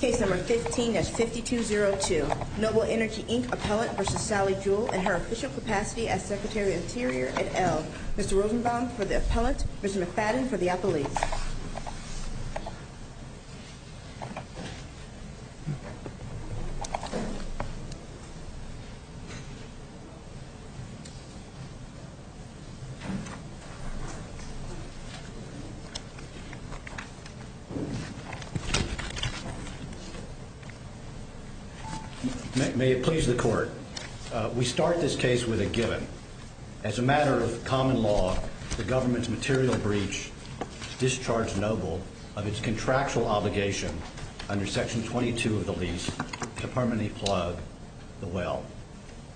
Case No. 15 at 5202, Noble Energy, Inc. Appellant v. Sally Jewell in her official capacity as Secretary of the Interior at Elm Mr. Rosenbaum for the Appellant, Ms. McFadden for the Appellant May it please the Court, we start this case with a given. As a matter of common law, the Government's material breach discharged Noble of its contractual obligation under Section 22 of the lease to permanently plug the well.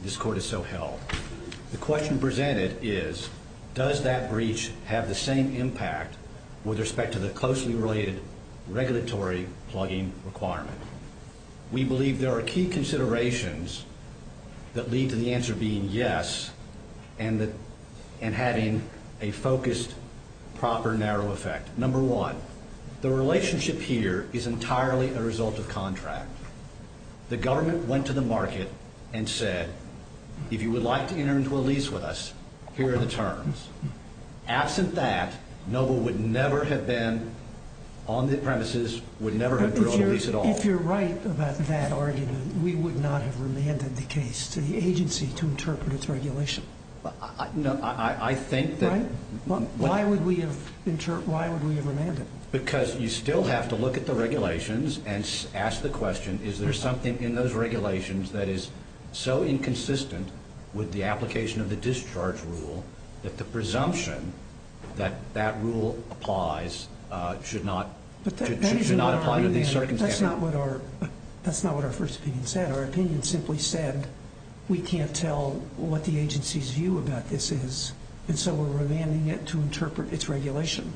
This Court is so held. The question presented is, does that breach have the same impact with respect to the closely related regulatory plugging requirement? We believe there are key considerations that lead to the answer being yes and having a focused, proper, narrow effect. No. 1, the relationship here is entirely a result of contract. The Government went to the market and said, if you would like to enter into a lease with us, here are the terms. Absent that, Noble would never have been on the premises, would never have drilled a lease at all. If you're right about that argument, we would not have remanded the case to the agency to interpret its regulation. I think that... Why would we have remanded? Because you still have to look at the regulations and ask the question, is there something in those regulations that is so inconsistent with the application of the discharge rule that the presumption that that rule applies should not apply under these circumstances? That's not what our first opinion said. Our opinion simply said we can't tell what the agency's view about this is, and so we're remanding it to interpret its regulation.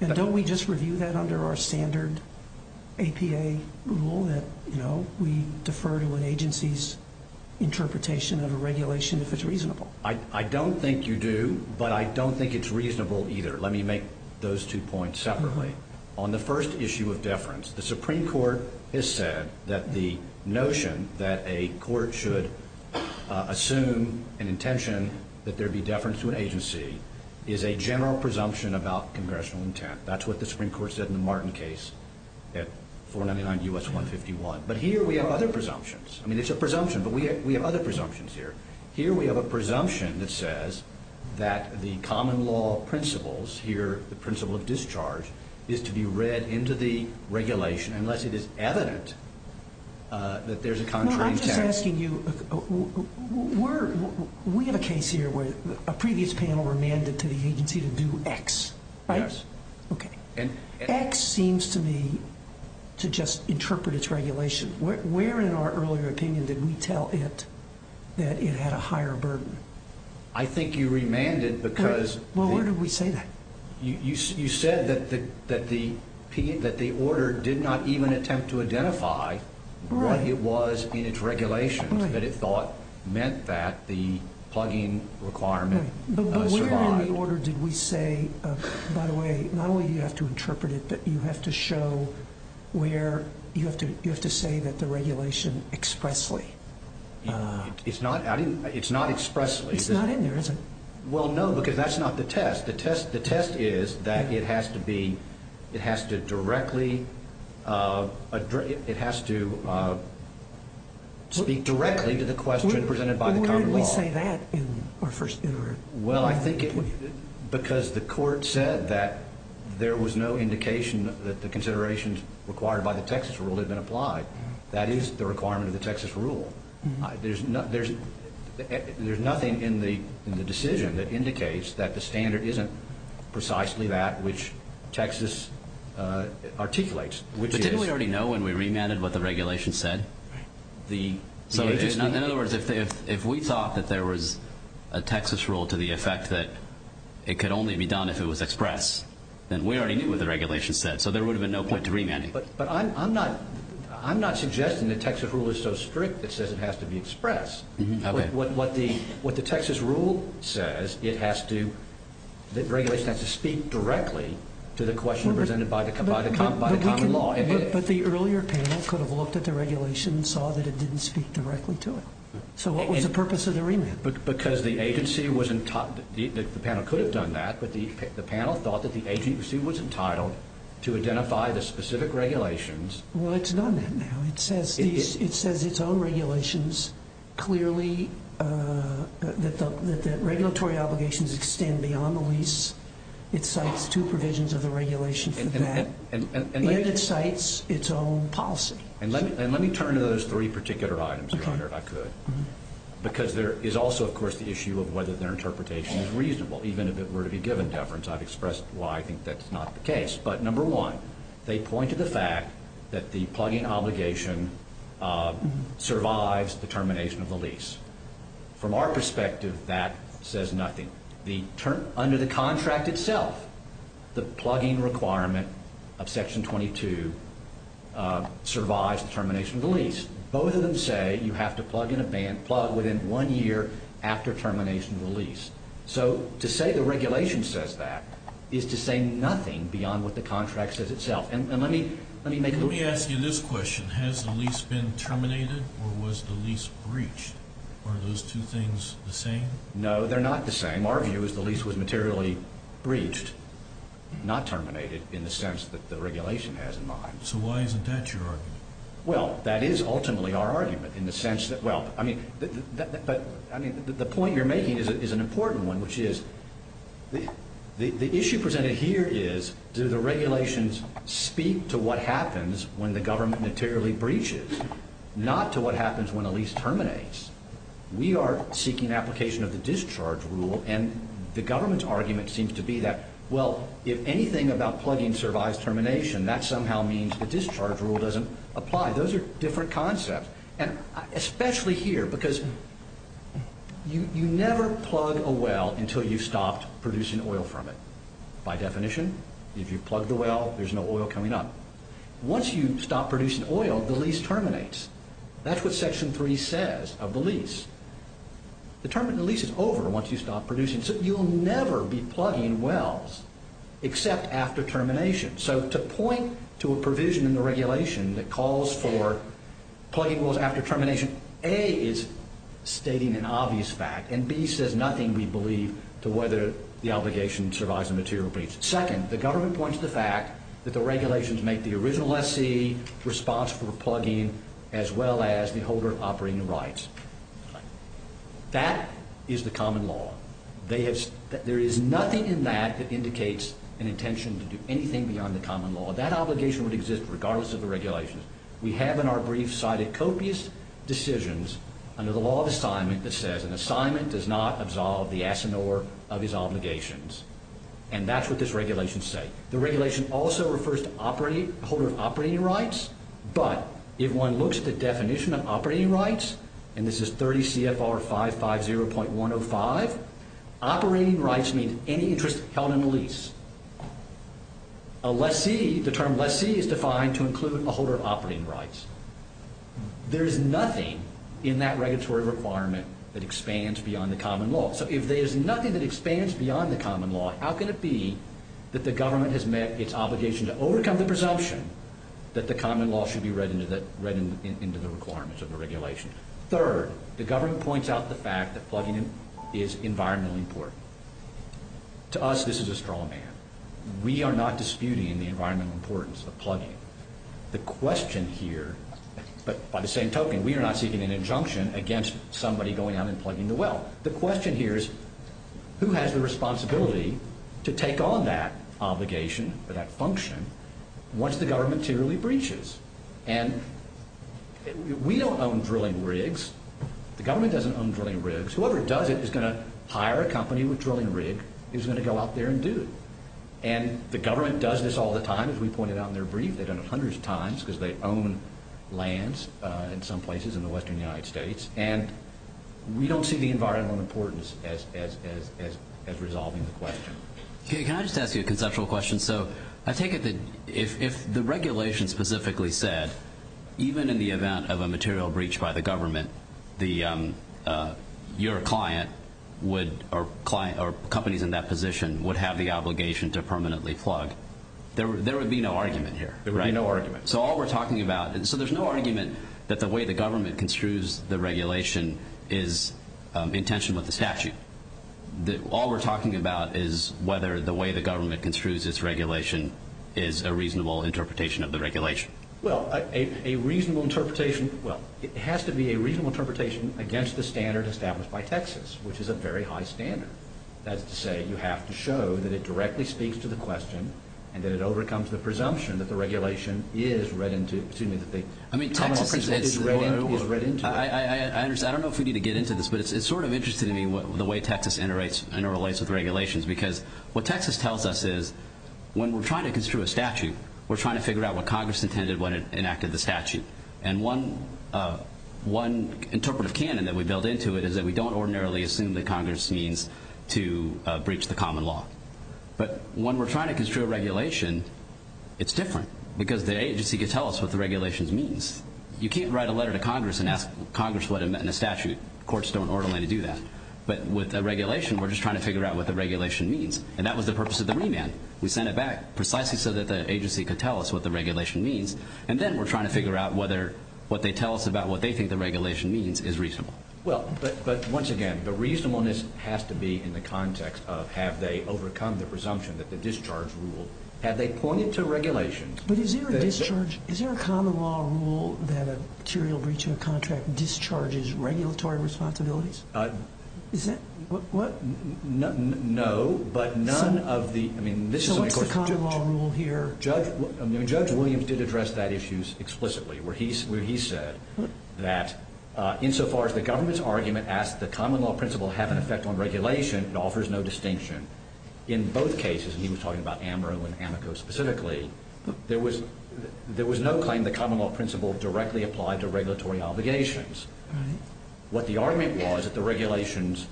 And don't we just review that under our standard APA rule that we defer to an agency's interpretation of a regulation if it's reasonable? I don't think you do, but I don't think it's reasonable either. Let me make those two points separately. On the first issue of deference, the Supreme Court has said that the notion that a court should assume an intention that there be deference to an agency is a general presumption about congressional intent. That's what the Supreme Court said in the Martin case at 499 U.S. 151. But here we have other presumptions. I mean, it's a presumption, but we have other presumptions here. Here we have a presumption that says that the common law principles here, the principle of discharge, is to be read into the regulation unless it is evident that there's a contrary intent. I'm just asking you, we have a case here where a previous panel remanded to the agency to do X, right? Yes. Okay. X seems to me to just interpret its regulation. Where in our earlier opinion did we tell it that it had a higher burden? I think you remanded because the— Well, where did we say that? You said that the order did not even attempt to identify what it was in its regulations that it thought meant that the plugging requirement survived. Okay, but where in the order did we say, by the way, not only do you have to interpret it, but you have to show where you have to say that the regulation expressly— It's not expressly. It's not in there, is it? Well, no, because that's not the test. The test is that it has to be—it has to directly— it has to speak directly to the question presented by the common law. Where did we say that in our first— Well, I think it was because the court said that there was no indication that the considerations required by the Texas rule had been applied. That is the requirement of the Texas rule. There's nothing in the decision that indicates that the standard isn't precisely that which Texas articulates. But didn't we already know when we remanded what the regulation said? In other words, if we thought that there was a Texas rule to the effect that it could only be done if it was expressed, then we already knew what the regulation said, so there would have been no point to remanding. But I'm not suggesting the Texas rule is so strict that says it has to be expressed. What the Texas rule says, it has to—the regulation has to speak directly to the question presented by the common law. But the earlier panel could have looked at the regulation and saw that it didn't speak directly to it. So what was the purpose of the remand? Because the agency was—the panel could have done that, but the panel thought that the agency was entitled to identify the specific regulations. Well, it's done that now. It says its own regulations clearly that the regulatory obligations extend beyond the lease. It cites two provisions of the regulation for that. And it cites its own policy. And let me turn to those three particular items, Your Honor, if I could, because there is also, of course, the issue of whether their interpretation is reasonable, even if it were to be given deference. I've expressed why I think that's not the case. But number one, they point to the fact that the plugging obligation survives the termination of the lease. From our perspective, that says nothing. Under the contract itself, the plugging requirement of Section 22 survives the termination of the lease. Both of them say you have to plug within one year after termination of the lease. So to say the regulation says that is to say nothing beyond what the contract says itself. And let me make— Let me ask you this question. Has the lease been terminated or was the lease breached? Are those two things the same? No, they're not the same. Our view is the lease was materially breached, not terminated, in the sense that the regulation has in mind. So why isn't that your argument? Well, that is ultimately our argument in the sense that— Well, I mean, the point you're making is an important one, which is the issue presented here is, do the regulations speak to what happens when the government materially breaches, not to what happens when a lease terminates? We are seeking application of the discharge rule, and the government's argument seems to be that, well, if anything about plugging survives termination, that somehow means the discharge rule doesn't apply. Those are different concepts, and especially here, because you never plug a well until you've stopped producing oil from it. By definition, if you plug the well, there's no oil coming up. Once you stop producing oil, the lease terminates. That's what Section 3 says of the lease. The term of the lease is over once you stop producing, so you'll never be plugging wells except after termination. So to point to a provision in the regulation that calls for plugging wells after termination, A is stating an obvious fact, and B says nothing, we believe, to whether the obligation survives a material breach. Second, the government points to the fact that the regulations make the original SC responsible for plugging as well as the holder of operating rights. That is the common law. There is nothing in that that indicates an intention to do anything beyond the common law. That obligation would exist regardless of the regulations. We have in our brief cited copious decisions under the law of assignment that says an assignment does not absolve the assignor of his obligations, and that's what this regulation says. The regulation also refers to a holder of operating rights, but if one looks at the definition of operating rights, and this is 30 CFR 550.105, operating rights mean any interest held in a lease. A lessee, the term lessee is defined to include a holder of operating rights. There is nothing in that regulatory requirement that expands beyond the common law. So if there is nothing that expands beyond the common law, how can it be that the government has met its obligation to overcome the presumption that the common law should be read into the requirements of the regulation? Third, the government points out the fact that plugging is environmentally important. To us, this is a straw man. We are not disputing the environmental importance of plugging. The question here, but by the same token, Now, the question here is who has the responsibility to take on that obligation or that function once the government clearly breaches? And we don't own drilling rigs. The government doesn't own drilling rigs. Whoever does it is going to hire a company with a drilling rig who's going to go out there and do it. And the government does this all the time, as we pointed out in their brief. They've done it hundreds of times because they own lands in some places in the western United States. And we don't see the environmental importance as resolving the question. Can I just ask you a conceptual question? So I take it that if the regulation specifically said, even in the event of a material breach by the government, your client or companies in that position would have the obligation to permanently plug, there would be no argument here, right? There would be no argument. So all we're talking about, and so there's no argument that the way the government construes the regulation is in tension with the statute. All we're talking about is whether the way the government construes its regulation is a reasonable interpretation of the regulation. Well, a reasonable interpretation, well, it has to be a reasonable interpretation against the standard established by Texas, which is a very high standard. That is to say you have to show that it directly speaks to the question and that it overcomes the presumption that the regulation is read into it. I mean, Texas is the one who was read into it. I don't know if we need to get into this, but it's sort of interesting to me the way Texas interrelates with regulations because what Texas tells us is when we're trying to construe a statute, we're trying to figure out what Congress intended when it enacted the statute. And one interpretive canon that we build into it is that we don't ordinarily assume that Congress means to breach the common law. But when we're trying to construe a regulation, it's different because the agency can tell us what the regulation means. You can't write a letter to Congress and ask Congress what it meant in the statute. Courts don't ordinarily do that. But with a regulation, we're just trying to figure out what the regulation means. And that was the purpose of the remand. We sent it back precisely so that the agency could tell us what the regulation means, and then we're trying to figure out whether what they tell us about what they think the regulation means is reasonable. Well, but once again, the reasonableness has to be in the context of have they overcome the presumption that the discharge rule? Have they pointed to regulations? But is there a discharge? Is there a common law rule that a material breach of a contract discharges regulatory responsibilities? Is that what? No, but none of the, I mean, this is a question. So what's the common law rule here? Judge Williams did address that issue explicitly, where he said that insofar as the government's argument asks the common law principle have an effect on regulation, it offers no distinction. In both cases, and he was talking about AMRO and AMICO specifically, there was no claim the common law principle directly applied to regulatory obligations. What the argument was that the regulations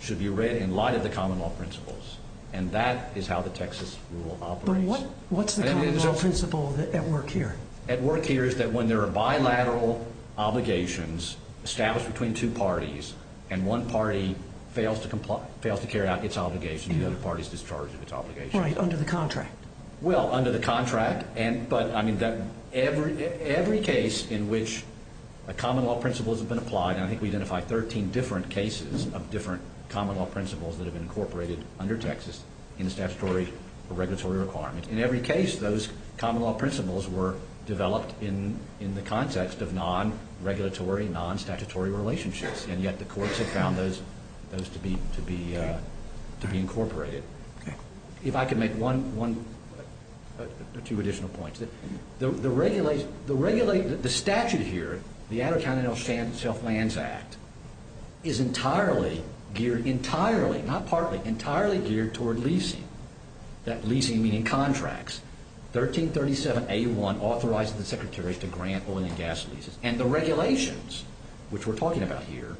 should be read in light of the common law principles, and that is how the Texas rule operates. But what's the common law principle at work here? At work here is that when there are bilateral obligations established between two parties and one party fails to carry out its obligation, the other party is discharged of its obligation. Right, under the contract. Well, under the contract, but, I mean, every case in which a common law principle has been applied, and I think we identified 13 different cases of different common law principles that have been incorporated under Texas in a statutory or regulatory requirement, in every case those common law principles were developed in the context of non-regulatory, non-statutory relationships, and yet the courts have found those to be incorporated. Okay. If I could make one, two additional points. The regulation, the statute here, the Amaro County Self-Lands Act, is entirely geared, entirely, not partly, entirely geared toward leasing, that leasing meaning contracts. 1337A1 authorizes the secretaries to grant oil and gas leases, and the regulations, which we're talking about here,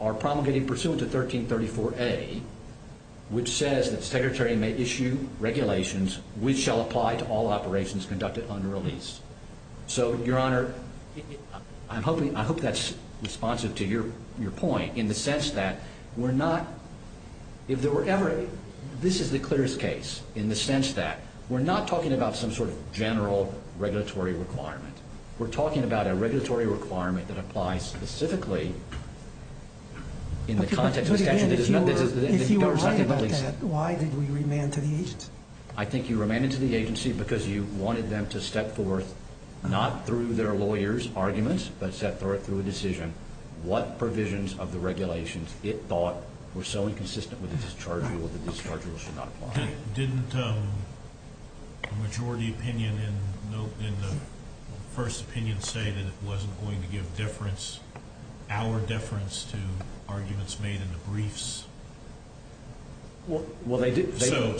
are promulgated pursuant to 1334A, which says that the secretary may issue regulations which shall apply to all operations conducted under lease. So, Your Honor, I hope that's responsive to your point in the sense that we're not, if there were ever, this is the clearest case in the sense that we're not talking about some sort of general regulatory requirement. We're talking about a regulatory requirement that applies specifically in the context of the statute. But, again, if you were right about that, why did we remand to the agency? I think you remanded to the agency because you wanted them to step forth, not through their lawyers' arguments, but through a decision, what provisions of the regulations it thought were so inconsistent with the discharge rule that the discharge rule should not apply. Didn't the majority opinion in the first opinion say that it wasn't going to give deference, our deference, to arguments made in the briefs? Well, they did. So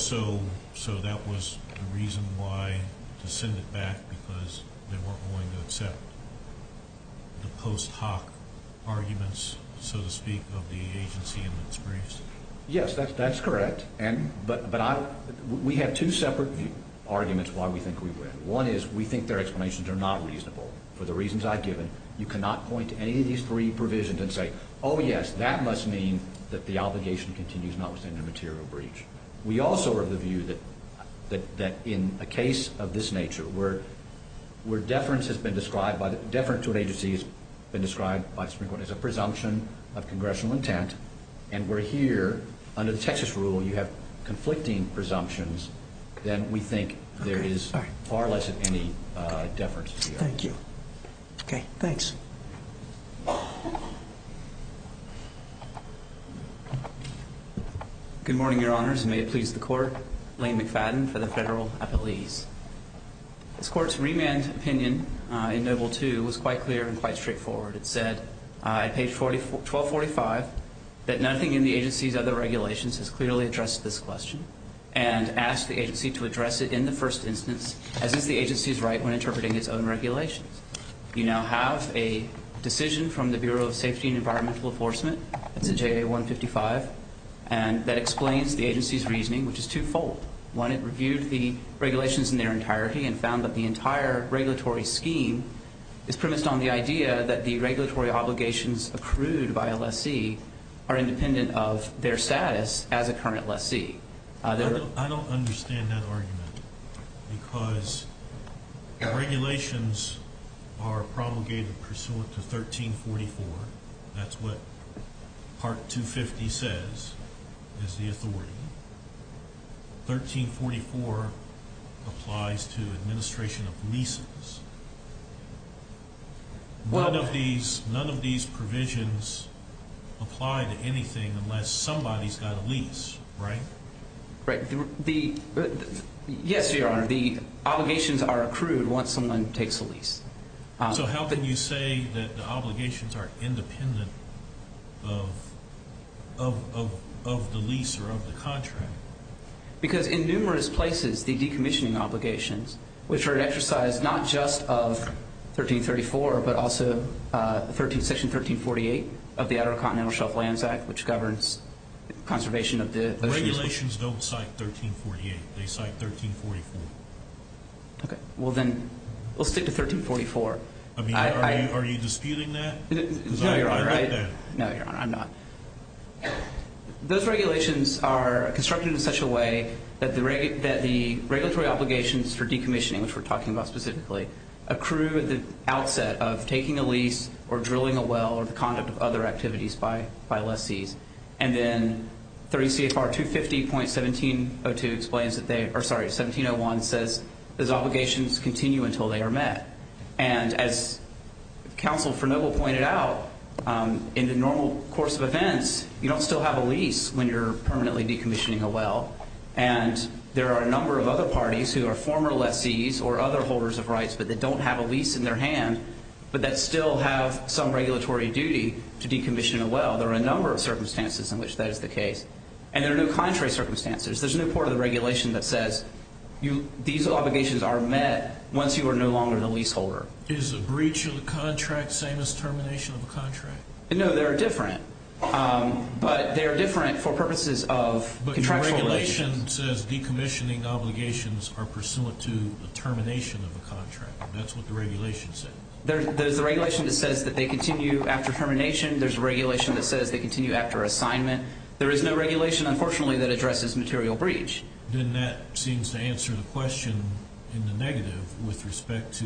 that was the reason why, to send it back because they weren't going to accept the post hoc arguments, so to speak, of the agency in its briefs? Yes, that's correct. But we have two separate arguments why we think we win. One is we think their explanations are not reasonable. For the reasons I've given, you cannot point to any of these three provisions and say, oh, yes, that must mean that the obligation continues notwithstanding the material breach. We also are of the view that in a case of this nature, where deference to an agency has been described as a presumption of congressional intent and we're here under the Texas rule, you have conflicting presumptions, then we think there is far less of any deference to the agency. Thank you. Okay, thanks. Good morning, Your Honors, and may it please the Court. Lane McFadden for the Federal Appellees. This Court's remand opinion in No. 2 was quite clear and quite straightforward. It said on page 1245 that nothing in the agency's other regulations has clearly addressed this question and asked the agency to address it in the first instance, as is the agency's right when interpreting its own regulations. You now have a decision from the Bureau of Safety and Environmental Enforcement. It's a JA 155, and that explains the agency's reasoning, which is twofold. One, it reviewed the regulations in their entirety and found that the entire regulatory scheme is premised on the idea that the regulatory obligations accrued by a lessee are independent of their status as a current lessee. I don't understand that argument because regulations are promulgated pursuant to 1344. That's what Part 250 says is the authority. 1344 applies to administration of leases. None of these provisions apply to anything unless somebody's got a lease, right? Right. Yes, Your Honor, the obligations are accrued once someone takes a lease. So how can you say that the obligations are independent of the lease or of the contract? Because in numerous places, the decommissioning obligations, which are an exercise not just of 1334 but also Section 1348 of the Outer Continental Shelf Lands Act, which governs conservation of the oceans. Regulations don't cite 1348. They cite 1344. Okay. Well, then we'll stick to 1344. Are you disputing that? No, Your Honor. I'm not. Those regulations are constructed in such a way that the regulatory obligations for decommissioning, which we're talking about specifically, accrue at the outset of taking a lease or drilling a well or the conduct of other activities by lessees. And then 30 CFR 250.1701 says those obligations continue until they are met. And as Counsel for Noble pointed out, in the normal course of events, you don't still have a lease when you're permanently decommissioning a well. And there are a number of other parties who are former lessees or other holders of rights but that don't have a lease in their hand but that still have some regulatory duty to decommission a well. There are a number of circumstances in which that is the case. And there are no contrary circumstances. There's no part of the regulation that says these obligations are met once you are no longer the leaseholder. Is a breach of the contract the same as termination of a contract? No, they are different. But they are different for purposes of contractual reasons. But your regulation says decommissioning obligations are pursuant to the termination of a contract. That's what the regulation says. There's a regulation that says that they continue after termination. There's a regulation that says they continue after assignment. There is no regulation, unfortunately, that addresses material breach. Then that seems to answer the question in the negative with respect to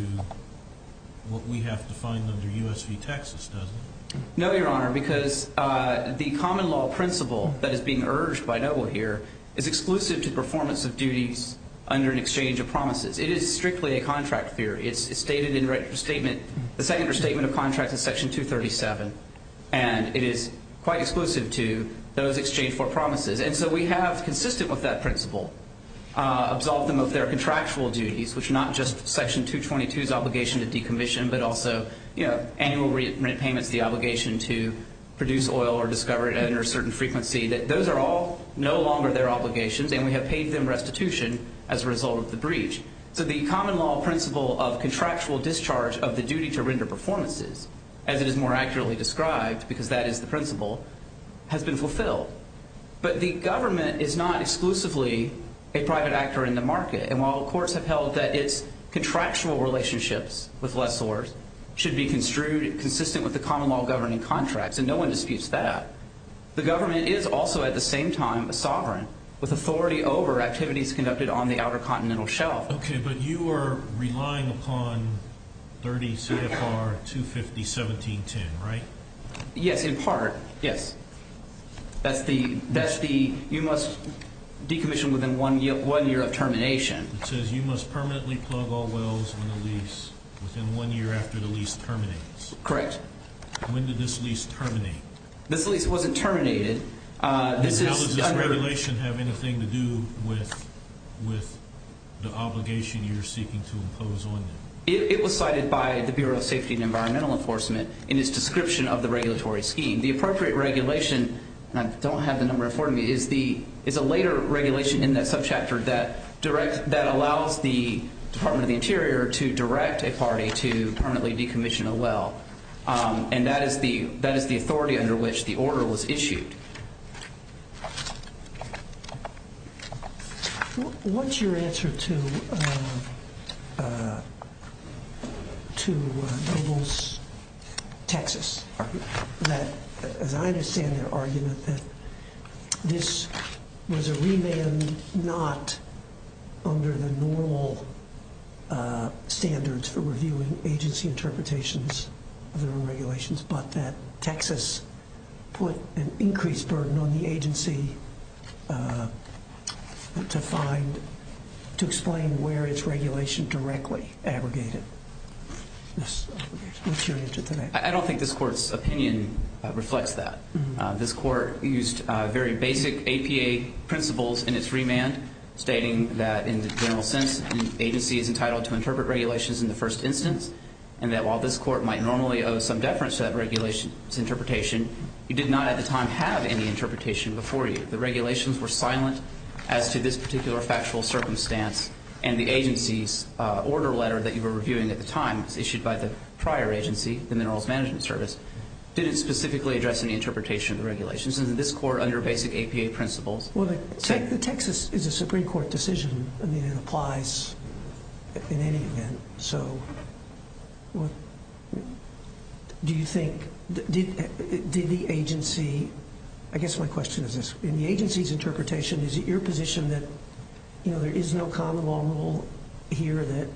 what we have defined under US v. Texas, doesn't it? No, Your Honor, because the common law principle that is being urged by Noble here is exclusive to performance of duties under an exchange of promises. It is strictly a contract theory. It's stated in the second restatement of contracts in Section 237. And it is quite exclusive to those exchange for promises. And so we have, consistent with that principle, absolved them of their contractual duties, which are not just Section 222's obligation to decommission, but also annual rent payments, the obligation to produce oil or discover it at a certain frequency. Those are all no longer their obligations, and we have paid them restitution as a result of the breach. So the common law principle of contractual discharge of the duty to render performances, as it is more accurately described, because that is the principle, has been fulfilled. But the government is not exclusively a private actor in the market. And while courts have held that its contractual relationships with lessors should be construed consistent with the common law governing contracts, and no one disputes that, the government is also at the same time a sovereign, with authority over activities conducted on the outer continental shelf. Okay, but you are relying upon 30 CFR 250.17.10, right? Yes, in part, yes. That's the you must decommission within one year of termination. It says you must permanently plug all wells on the lease within one year after the lease terminates. Correct. When did this lease terminate? This lease wasn't terminated. And how does this regulation have anything to do with the obligation you're seeking to impose on them? It was cited by the Bureau of Safety and Environmental Enforcement in its description of the regulatory scheme. The appropriate regulation, and I don't have the number in front of me, is a later regulation in that subchapter that allows the Department of the Interior to direct a party to permanently decommission a well. And that is the authority under which the order was issued. What's your answer to Goebbels, Texas, that, as I understand their argument, that this was a remand not under the normal standards for reviewing agency interpretations of their own regulations, but that Texas put an increased burden on the agency to find, to explain where its regulation directly abrogated? What's your answer to that? I don't think this Court's opinion reflects that. This Court used very basic APA principles in its remand, stating that, in the general sense, an agency is entitled to interpret regulations in the first instance, and that while this Court might normally owe some deference to that regulation's interpretation, it did not at the time have any interpretation before you. The regulations were silent as to this particular factual circumstance, and the agency's order letter that you were reviewing at the time, issued by the prior agency, the Minerals Management Service, didn't specifically address any interpretation of the regulations. And this Court, under basic APA principles… Well, the Texas is a Supreme Court decision. I mean, it applies in any event. So, do you think… did the agency… I guess my question is this. In the agency's interpretation, is it your position that, you know, there is no common law rule here that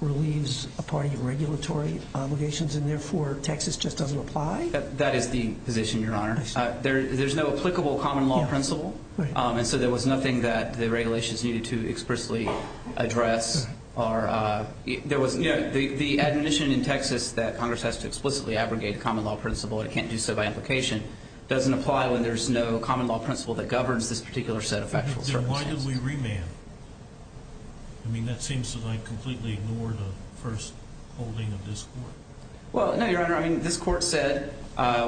relieves a party of regulatory obligations, and therefore, Texas just doesn't apply? That is the position, Your Honor. There's no applicable common law principle, and so there was nothing that the regulations needed to expressly address. The admission in Texas that Congress has to explicitly abrogate a common law principle, and it can't do so by implication, doesn't apply when there's no common law principle that governs this particular set of factual circumstances. Then why did we remand? I mean, that seems to me to completely ignore the first holding of this Court. Well, no, Your Honor. I mean, this Court said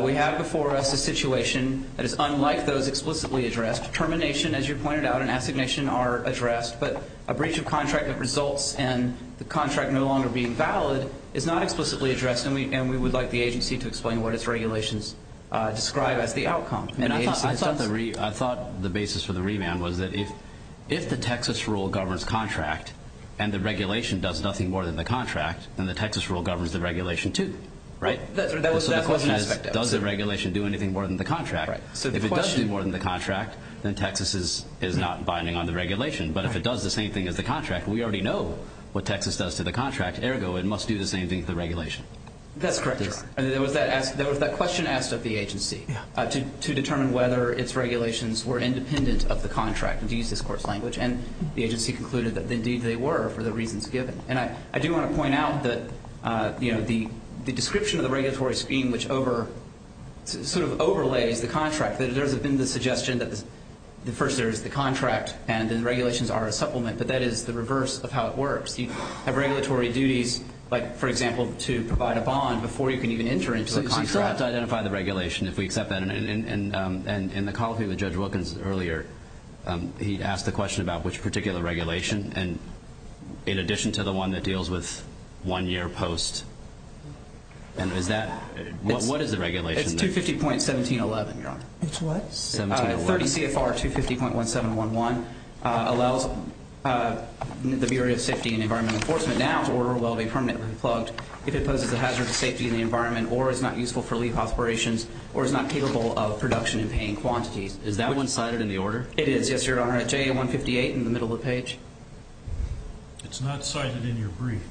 we have before us a situation that is unlike those explicitly addressed. Termination, as you pointed out, and assignation are addressed, but a breach of contract that results in the contract no longer being valid is not explicitly addressed, and we would like the agency to explain what its regulations describe as the outcome. I thought the basis for the remand was that if the Texas rule governs contract and the regulation does nothing more than the contract, then the Texas rule governs the regulation too, right? So the question is, does the regulation do anything more than the contract? If it does do more than the contract, then Texas is not binding on the regulation. But if it does the same thing as the contract, we already know what Texas does to the contract. Ergo, it must do the same thing to the regulation. That's correct, Your Honor. There was that question asked of the agency to determine whether its regulations were independent of the contract, to use this Court's language, and the agency concluded that indeed they were for the reasons given. And I do want to point out that, you know, the description of the regulatory scheme, which sort of overlays the contract, that there has been the suggestion that first there is the contract and the regulations are a supplement, but that is the reverse of how it works. You have regulatory duties, like, for example, to provide a bond before you can even enter into the contract. So you still have to identify the regulation if we accept that. And in the colloquy with Judge Wilkins earlier, he asked the question about which particular regulation, and in addition to the one that deals with one year post, and is that, what is the regulation? It's 250.1711, Your Honor. It's what? 30 CFR 250.1711 allows the Bureau of Safety and Environment Enforcement now to order a well-being permanently plugged if it poses a hazard to safety in the environment or is not useful for leave aspirations or is not capable of production in paying quantities. Is that one cited in the order? It is, yes, Your Honor. J.A. 158 in the middle of the page. It's not cited in your brief.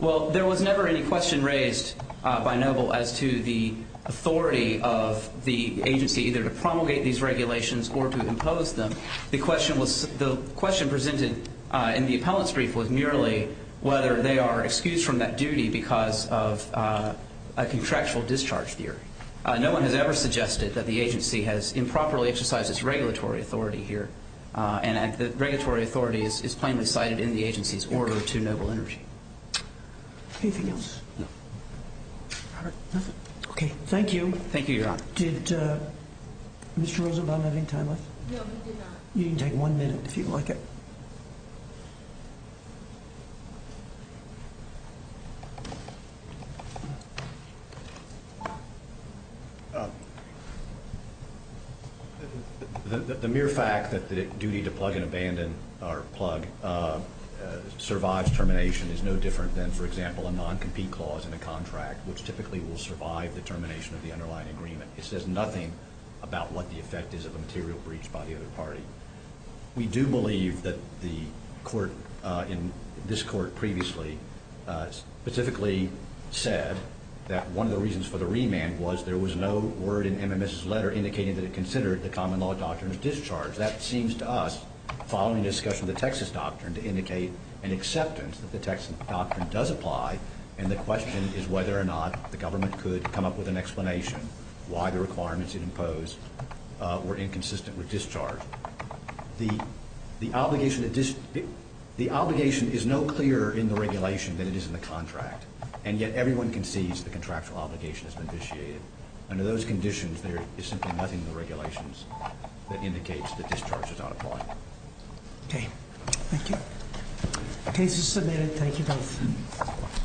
Well, there was never any question raised by Noble as to the authority of the agency either to promulgate these regulations or to impose them. The question presented in the appellant's brief was merely whether they are excused from that duty because of a contractual discharge theory. No one has ever suggested that the agency has improperly exercised its regulatory authority here, and the regulatory authority is plainly cited in the agency's order to Noble Energy. Anything else? No. All right. Nothing? Okay. Thank you. Thank you, Your Honor. Did Mr. Rosenbaum have any time left? No, he did not. You can take one minute if you'd like it. The mere fact that the duty to plug and abandon or plug survives termination is no different than, for example, a non-compete clause in a contract, which typically will survive the termination of the underlying agreement. It says nothing about what the effect is of a material breach by the other party. We do believe that the court in this court previously specifically said that one of the reasons for the remand was there was no word in MMS's letter indicating that it considered the common law doctrine of discharge. That seems to us, following discussion of the Texas doctrine, to indicate an acceptance that the Texas doctrine does apply, and the question is whether or not the government could come up with an explanation why the requirements it imposed were inconsistent with discharge. The obligation is no clearer in the regulation than it is in the contract, and yet everyone concedes the contractual obligation has been vitiated. Under those conditions, there is simply nothing in the regulations that indicates that discharge does not apply. Okay. Thank you. The case is submitted. Thank you both.